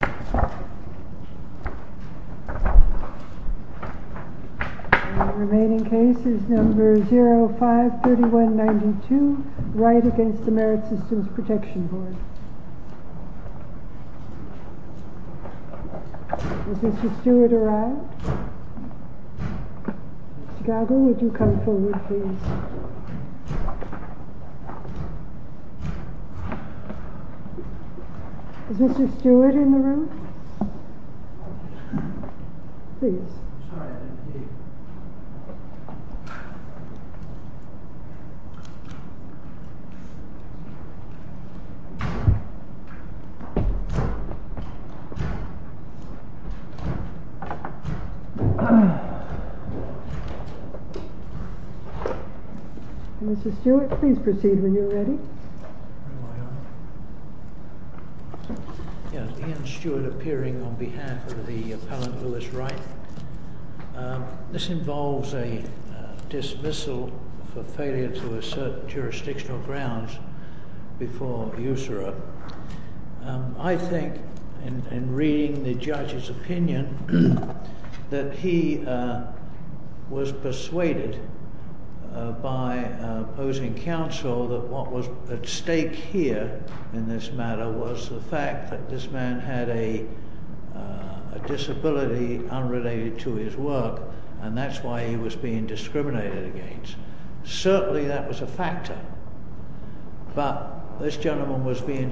The remaining case is No. 05-3192, Wright v. Merit Systems Protection Board. Has Mr. Stewart arrived? Mr. Gallagher, would you come forward, please? Is Mr. Stewart in the room? Please. Mr. Stewart, please proceed when you're ready. Yes, Ian Stewart appearing on behalf of the appellant, Lewis Wright. This involves a dismissal for failure to assert jurisdictional grounds before USARA. I think, in reading the judge's testimony, he was persuaded by opposing counsel that what was at stake here in this matter was the fact that this man had a disability unrelated to his work, and that's why he was being discriminated against. Certainly that was a factor, but this gentleman was being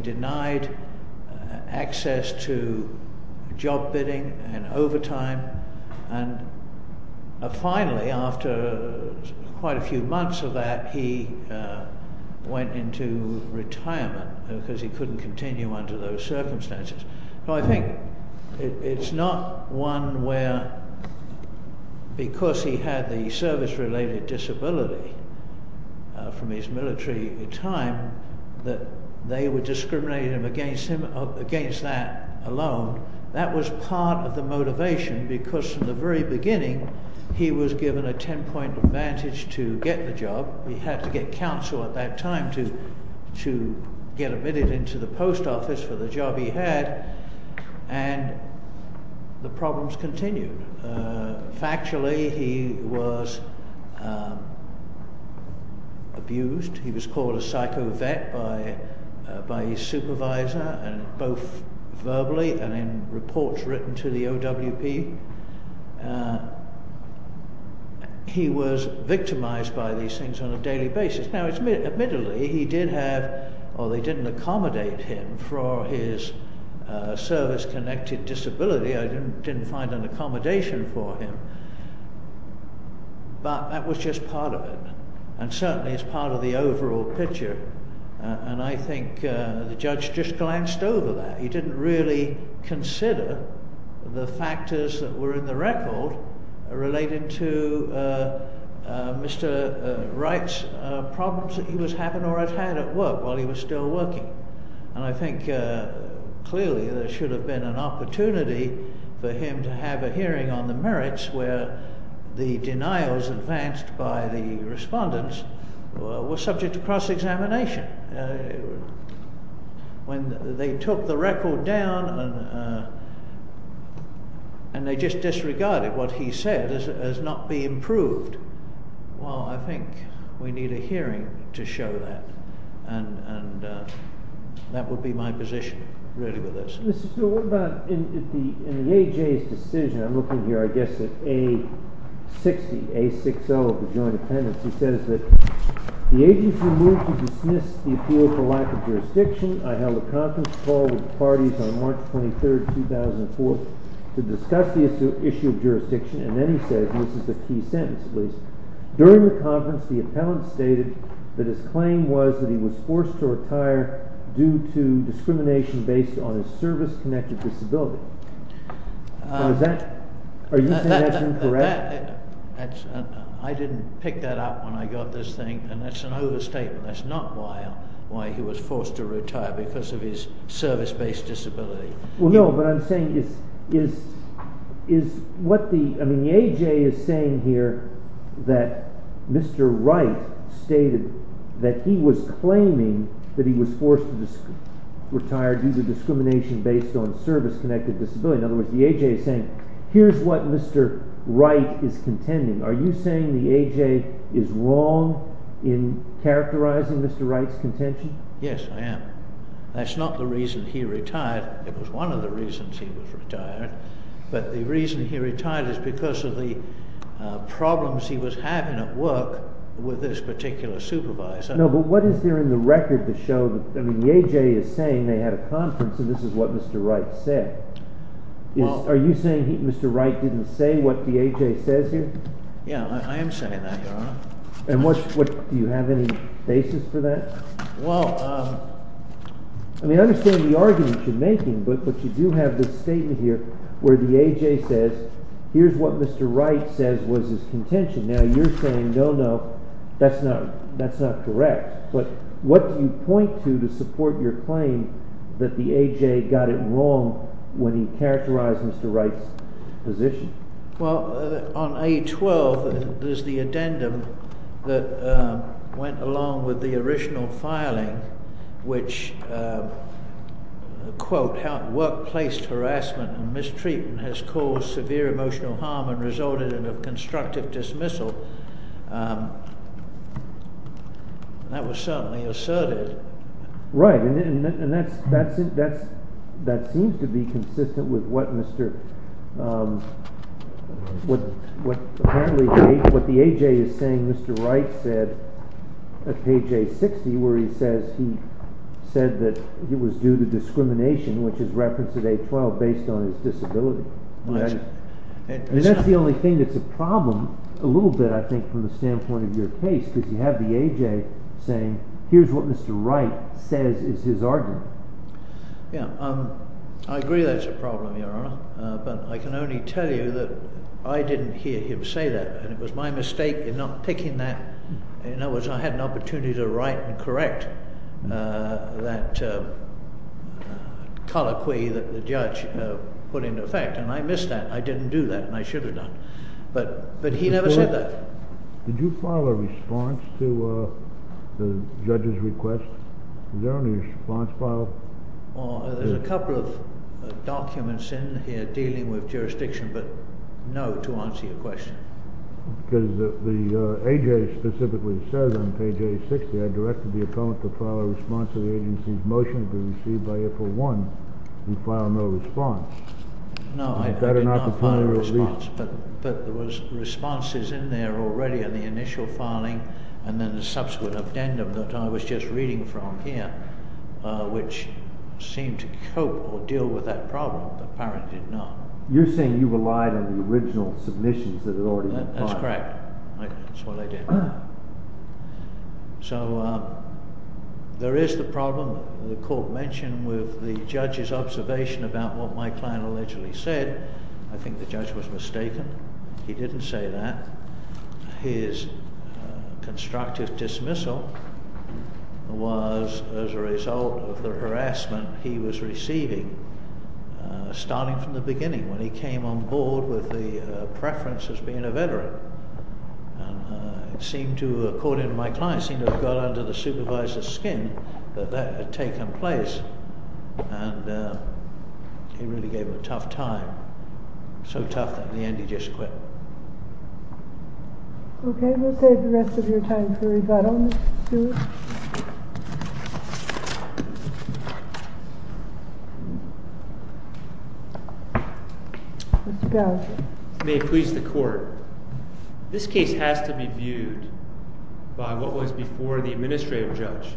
denied access to job bidding and overtime. Finally, after quite a few months of that, he went into retirement because he couldn't continue under those circumstances. I think it's not one where, because he had the service-related disability from his military time, they were discriminating him against that alone. That was part of the motivation because, from the very beginning, he was given a 10-point advantage to get the job. He had to get counsel at that time to get admitted into the post office for the job he had, and the problems continued. Factually, he was abused. He was called a psycho vet by his supervisor, both verbally and in reports written to the OWP. He was victimized by these things on a daily basis. Admittedly, he did have, or they didn't accommodate him for his service-connected disability. I didn't find an accommodation for him, but that was just part of it, and certainly it's part of the overall picture. I think the judge just glanced over that. He didn't really consider the factors that were in the record relating to Mr. Wright's problems that he was having or had had at work while he was still working. I think, clearly, there should have been an opportunity for him to have a hearing on the merits where the denials advanced by the respondents were subject to cross-examination. When they took the record down and they just disregarded what he said as not being proved, well, I think we were able to do that. Mr. Gould, what about in the AJ's decision, I'm looking here I guess at A-60, A-6-0 of the joint attendance. He says that, the agency is moved to dismiss the appeal for lack of jurisdiction. I held a conference call with the parties on March 23rd, 2004 to discuss the issue of jurisdiction, and then he said, and this is the key sentence, please. During the conference, the appellant stated that his claim was that he was forced to retire due to discrimination based on his service-connected disability. Now is that, are you saying that's incorrect? I didn't pick that up when I got this thing, and that's an overstatement. That's not why he was forced to retire because of his service-based disability. Well, no, but I'm saying is, is, is what the, I mean the AJ is saying here that Mr. Wright stated that he was claiming that he was forced to retire due to discrimination based on service-connected disability. In other words, the AJ is saying, here's what Mr. Wright is contending. Are you saying the AJ is wrong in characterizing Mr. Wright's contention? Yes, I am. That's not the reason he retired. It was one of the reasons he retired, but the reason he retired is because of the problems he was having at work with this particular supervisor. No, but what is there in the record to show that, I mean, the AJ is saying they had a conference, and this is what Mr. Wright said. Are you saying Mr. Wright didn't say what the AJ says here? Yeah, I am saying that, Your Honor. And what, do you have any basis for that? Well, I mean, I understand the argument you're making, but you do have this statement here where the AJ says, here's what Mr. Wright says was his contention. Now, you're saying, no, no, that's not, that's not correct. But what do you point to to support your claim that the AJ got it wrong when he characterized Mr. Wright's position? Well, on A12, there's the addendum that went along with the original filing, which, quote, how workplace harassment and mistreatment has caused severe emotional harm and resulted in a constructive dismissal. That was certainly asserted. Right, and that seems to be consistent with what Mr., what the AJ is saying Mr. Wright said at page A60, where he says he said that it was due to discrimination, which is referenced at A12, based on his disability. And that's the only thing that's a problem, a little bit, I think, from the standpoint of your case, because you have the AJ saying, here's what Mr. Wright says is his argument. Yeah, I agree that's a problem, Your Honor, but I can only tell you that I didn't hear him say that. And it was my mistake in not picking that. In other words, I had an opportunity to write and correct that colloquy that the judge put into effect. And I missed that. I didn't do that, and I should have done. But he never said that. Did you file a response to the judge's request? Is there any response file? Well, there's a couple of documents in here dealing with jurisdiction, but no to answer your question. Because the AJ specifically says on page A60, I directed the opponent to file a response to the agency's motion to be received by April 1. You filed no response. No, I did not file a response, but there was responses in there already in the initial filing, and then the subsequent addendum that I was just reading from here, which seemed to cope or deal with that problem. But apparently not. You're saying you relied on the original submissions that had already been filed. That's correct. That's what I did. So, there is the problem that the court mentioned with the judge's observation about what my client allegedly said. I think the judge was mistaken. He didn't say that. His constructive dismissal was as a result of the harassment he was receiving, starting from the beginning when he came on board with the preference as being a veteran. And it seemed to, according to my client, seem to have got under the supervisor's skin that that had taken place. And he really gave him a tough time. So tough that in the end he just quit. Okay, we'll save the rest of your time for rebuttal, Mr. Stewart. Mr. Bell, may it please the court, this case has to be viewed by what was before the administrative judge.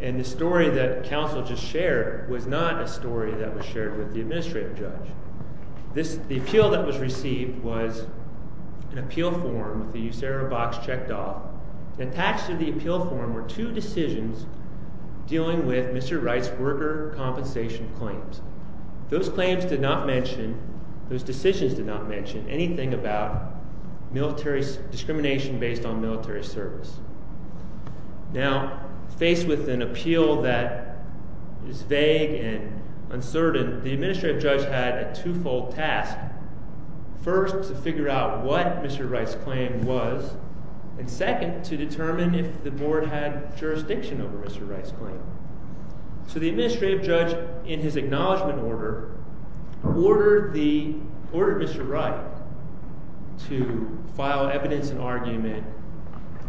And the story that counsel just shared was not a story that was shared with the administrative judge. The appeal that was received was an appeal form that the USARA box checked off. Attached to the appeal form were two decisions dealing with Mr. Wright's worker compensation claims. Those claims did not mention, those decisions did not mention anything about discrimination based on military service. Now, faced with an appeal that is vague and uncertain, the administrative judge had a two-fold task. First, to figure out what Mr. Wright's claim was. And second, to determine if the board had jurisdiction over Mr. Wright's claim. So the administrative judge, in his acknowledgment order, ordered Mr. Wright to file evidence and argument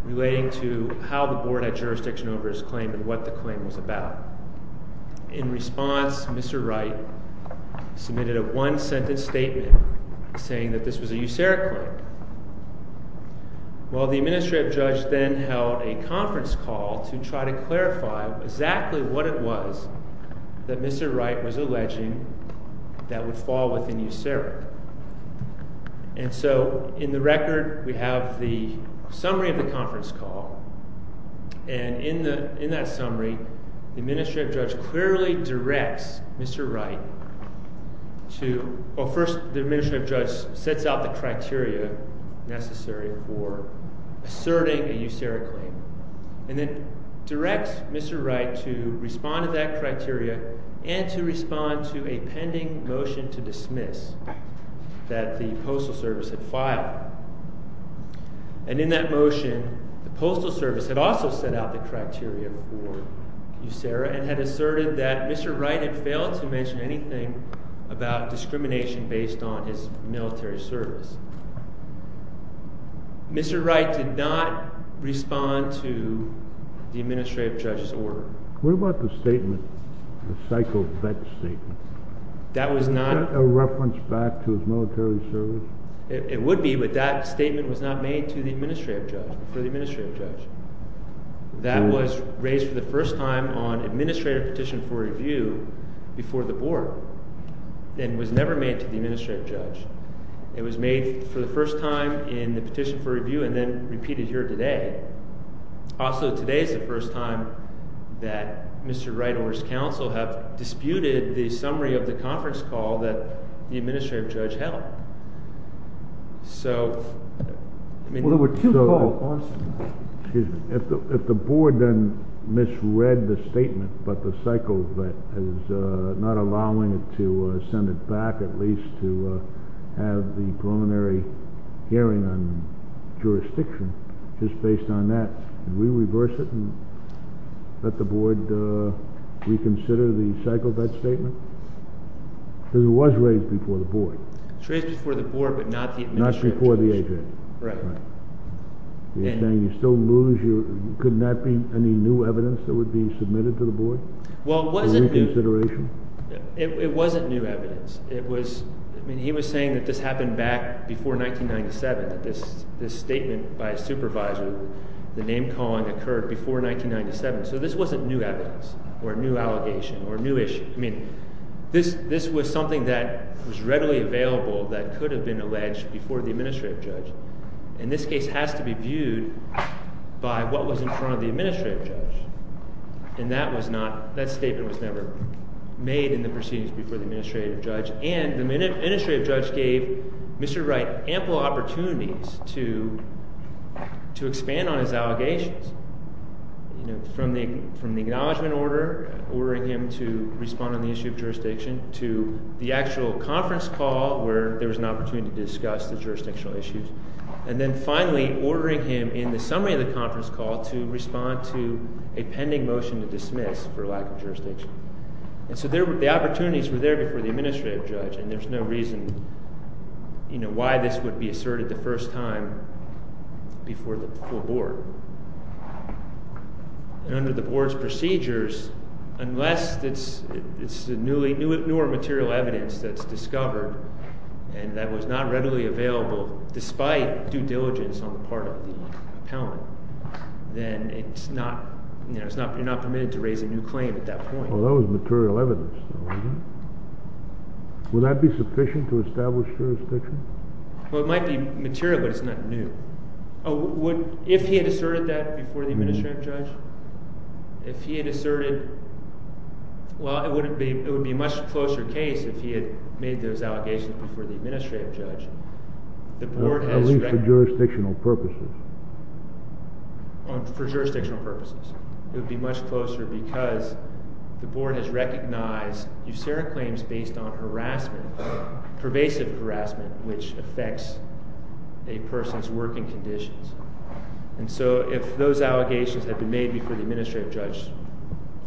relating to how the board had jurisdiction over his claim and what the claim was about. In response, Mr. Wright submitted a one-sentence statement saying that this was a USARA claim. Well, the administrative judge then held a conference call to try to clarify exactly what it was that Mr. Wright was alleging that would fall within USARA. And so, in the record, we have the summary of the conference call. And in that summary, the administrative judge clearly directs Mr. Wright to, well first, the administrative judge sets out the criteria necessary for asserting a USARA claim. And then directs Mr. Wright to respond to that criteria and to respond to a pending motion to dismiss that the Postal Service had filed. And in that motion, the Postal Service had also set out the criteria for USARA and had asserted that Mr. Wright had failed to mention anything about discrimination based on his military service. Mr. Wright did not respond to the administrative judge's order. What about the statement, the psycho-fetch statement? That was not... Is that a reference back to his military service? It would be, but that statement was not made to the administrative judge, for the administrative judge. That was raised for the first time on administrative petition for review before the board. And was never made to the administrative judge. It was made for the first time in the petition for review and then repeated here today. Also, today is the first time that Mr. Wright or his counsel have disputed the summary of the conference call that the administrative judge held. So, I mean... Well, there were two calls. Excuse me. If the board then misread the statement about the psycho-fetch, not allowing it to send it back at least to have the preliminary hearing on jurisdiction, just based on that, would we reverse it and let the board reconsider the psycho-fetch statement? Because it was raised before the board. It was raised before the board, but not the administrative judge. Not before the adjudicator. Right. You're saying you still lose your... Couldn't that be any new evidence that would be submitted to the board for reconsideration? Well, it wasn't new evidence. It was... I mean, he was saying that this happened back before 1997, that this statement by a supervisor, the name-calling occurred before 1997. So, this wasn't new evidence or a new allegation or a new issue. I mean, this was something that was readily available that could have been alleged before the administrative judge. And this case has to be viewed by what was in front of the administrative judge. And that was not... That statement was never made in the proceedings before the administrative judge. And the administrative judge gave Mr. Wright ample opportunities to expand on his allegations, from the acknowledgement order, ordering him to respond on the issue of jurisdiction, to the actual conference call where there was an opportunity to discuss the jurisdictional issues. And then, finally, ordering him, in the summary of the conference call, to respond to a pending motion to dismiss for lack of jurisdiction. And so, the opportunities were there before the administrative judge. And there's no reason, you know, why this would be asserted the first time before the full board. And under the board's procedures, unless it's the newer material evidence that's discovered and that was not readily available despite due diligence on the part of the appellant, then it's not, you know, you're not permitted to raise a new claim at that point. Well, that was material evidence. Would that be sufficient to establish jurisdiction? Well, it might be material, but it's not new. Oh, would... If he had asserted that before the administrative judge? If he had asserted... Well, it wouldn't be... It would be a much closer case if he had made those allegations before the administrative judge. The board has... At least for jurisdictional purposes. For jurisdictional purposes. It would be much closer because the board has recognized usuric claims based on harassment, pervasive harassment, which affects a person's working conditions. And so, if those allegations had been made before the administrative judge,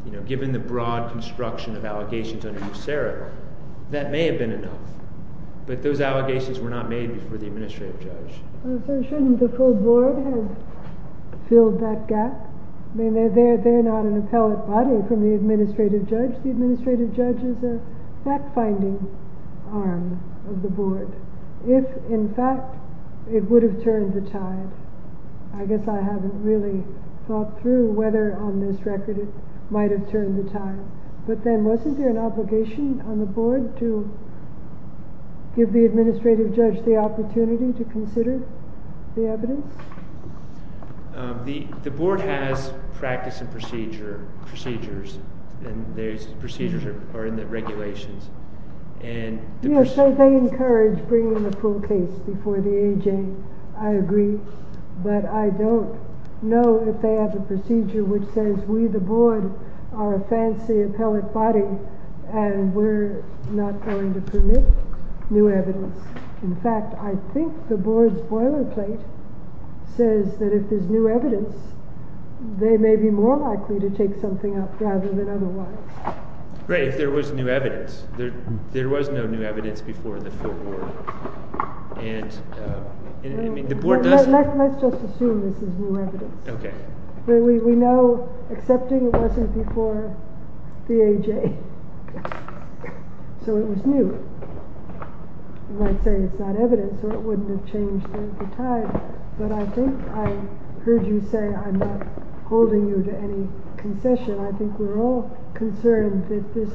you know, given the broad construction of allegations under usuric, that may have been enough. But those allegations were not made before the administrative judge. Well, so shouldn't the full board have filled that gap? I mean, they're not an appellate body from the administrative judge. The administrative judge is a fact-finding arm of the board. If, in fact, it would have turned the tide, I guess I haven't really thought through whether on this record it might have turned the tide. But then, wasn't there an obligation on the board to give the administrative judge the opportunity to consider the evidence? The board has practice and procedures, and those procedures are in the regulations. And... You know, so they encourage bringing the full case before the A.J. I agree. But I don't know if they have a procedure which says we, the board, are a fancy appellate body and we're not going to permit new evidence. In fact, I think the board's boilerplate says that if there's new evidence, they may be more likely to take something up rather than otherwise. Right, if there was new evidence. There was no new evidence before the full board. And the board does... Let's just assume this is new evidence. Okay. But we know accepting wasn't before the A.J., so it was new. You might say it's not evidence or it wouldn't have changed during the time, but I think I heard you say I'm not holding you to any concession. I think we're all concerned that this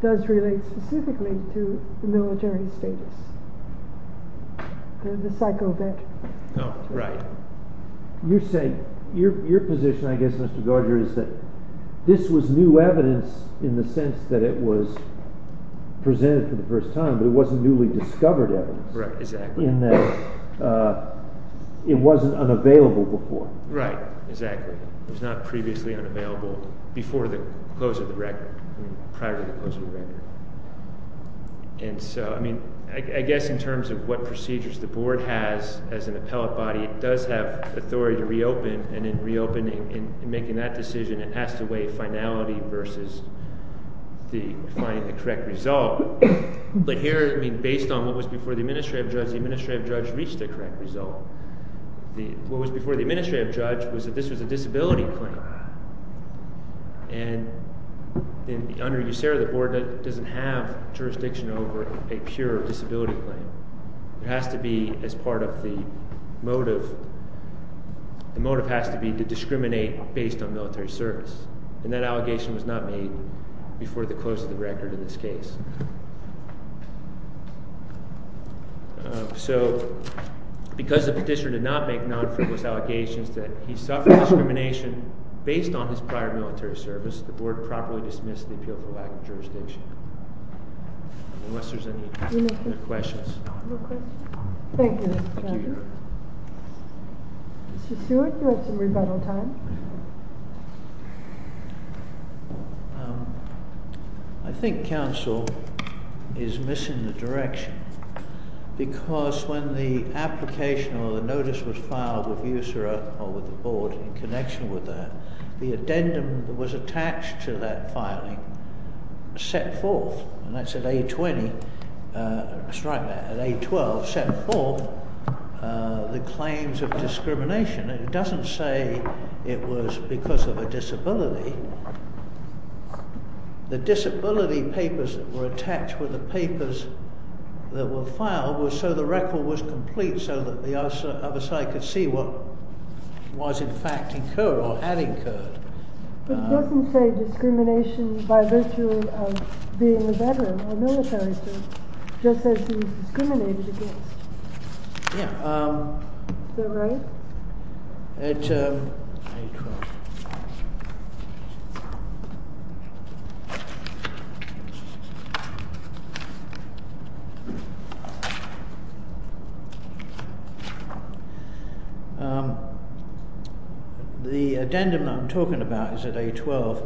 does relate specifically to the military status. To the psycho bitch. Oh, right. You're saying... Your position, I guess, Mr. Garger, is that this was new evidence in the sense that it was presented for the first time, but it wasn't newly discovered evidence. Right, exactly. In that it wasn't unavailable before. Right, exactly. It was not previously unavailable before the close of the record. I mean, prior to the close of the record. And so, I mean, I guess in terms of what procedures the board has as an appellate body, it does have authority to reopen, and in reopening, in making that decision, it has to weigh finality versus the finding the correct result. But here, I mean, based on what was before the administrative judge, the administrative judge reached a correct result. What was before the administrative judge was that this was a disability claim. And under USERRA, the board doesn't have jurisdiction over a pure disability claim. It has to be as part of the motive. The motive has to be to discriminate based on military service. And that allegation was not made before the close of the record in this case. So, because the petitioner did not make non-fruitless allegations that he suffered discrimination based on his prior military service, the board properly dismissed the appeal for lack of jurisdiction. Unless there's any other questions. No questions. Thank you, Mr. Chairman. Thank you, Your Honor. Mr. Seward, you have some rebuttal time. I think counsel is missing the direction, because when the application or the notice was filed with USERRA or with the board in connection with that, the addendum that was attached to that filing set forth, and that's at A20, that's right, at A12, set forth the claims of discrimination. It doesn't say it was because of a disability. The disability papers that were attached were the papers that were filed were so the record was complete, so that the other side could see what was in fact incurred or had incurred. It doesn't say discrimination by virtue of being a veteran or military service, just says he was discriminated against. Yeah. Is that right? At A12. The addendum I'm talking about is at A12,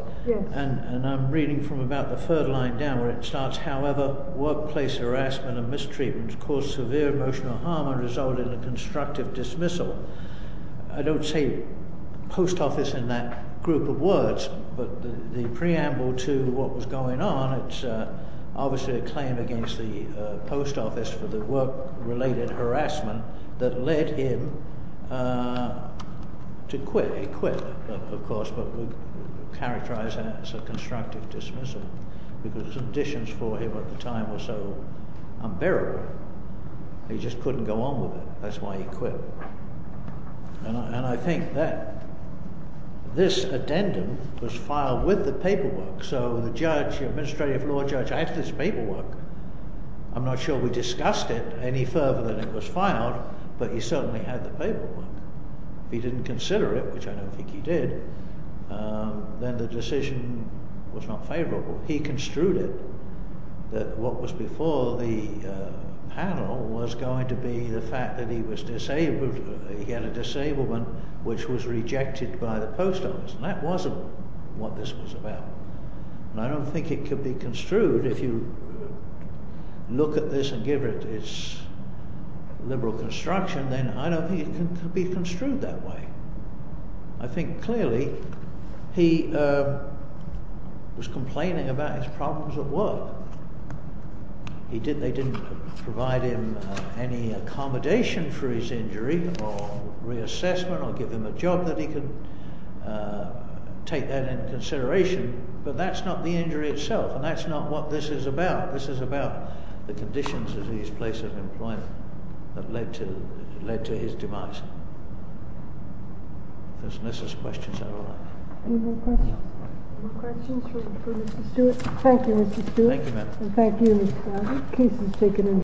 and I'm reading from about the third line down, where it starts, however, workplace harassment and mistreatment cause severe emotional harm and result in a constructive dismissal. I don't say post office in that group of words, but the preamble to what was going on, it's obviously a claim against the post office for the work-related harassment that led him to quit. He quit, of course, but we characterize that as a constructive dismissal, because conditions for him at the time were so unbearable. He just couldn't go on with it. That's why he quit. And I think that this addendum was filed with the paperwork. So the judge, the administrative law judge, I had this paperwork. I'm not sure we discussed it any further than it was filed, but he certainly had the paperwork. If he didn't consider it, which I don't think he did, then the decision was not favorable. He construed it that what was before the panel was going to be the fact that he was disabled. He had a disablement which was rejected by the post office. That wasn't what this was about. And I don't think it could be construed. If you look at this and give it its liberal construction, then I don't think it can be construed that way. I think clearly he was complaining about his problems at work. They didn't provide him any accommodation for his injury or reassessment or give him a job that he could take that in consideration. But that's not the injury itself. And that's not what this is about. This is about the conditions of his place of employment that led to his demise. Those are Mrs. questions. I don't know. Any more questions for Mr. Stewart? Thank you, Mr. Stewart. Thank you, ma'am. And thank you, Mr. Fowler. The case is taken in.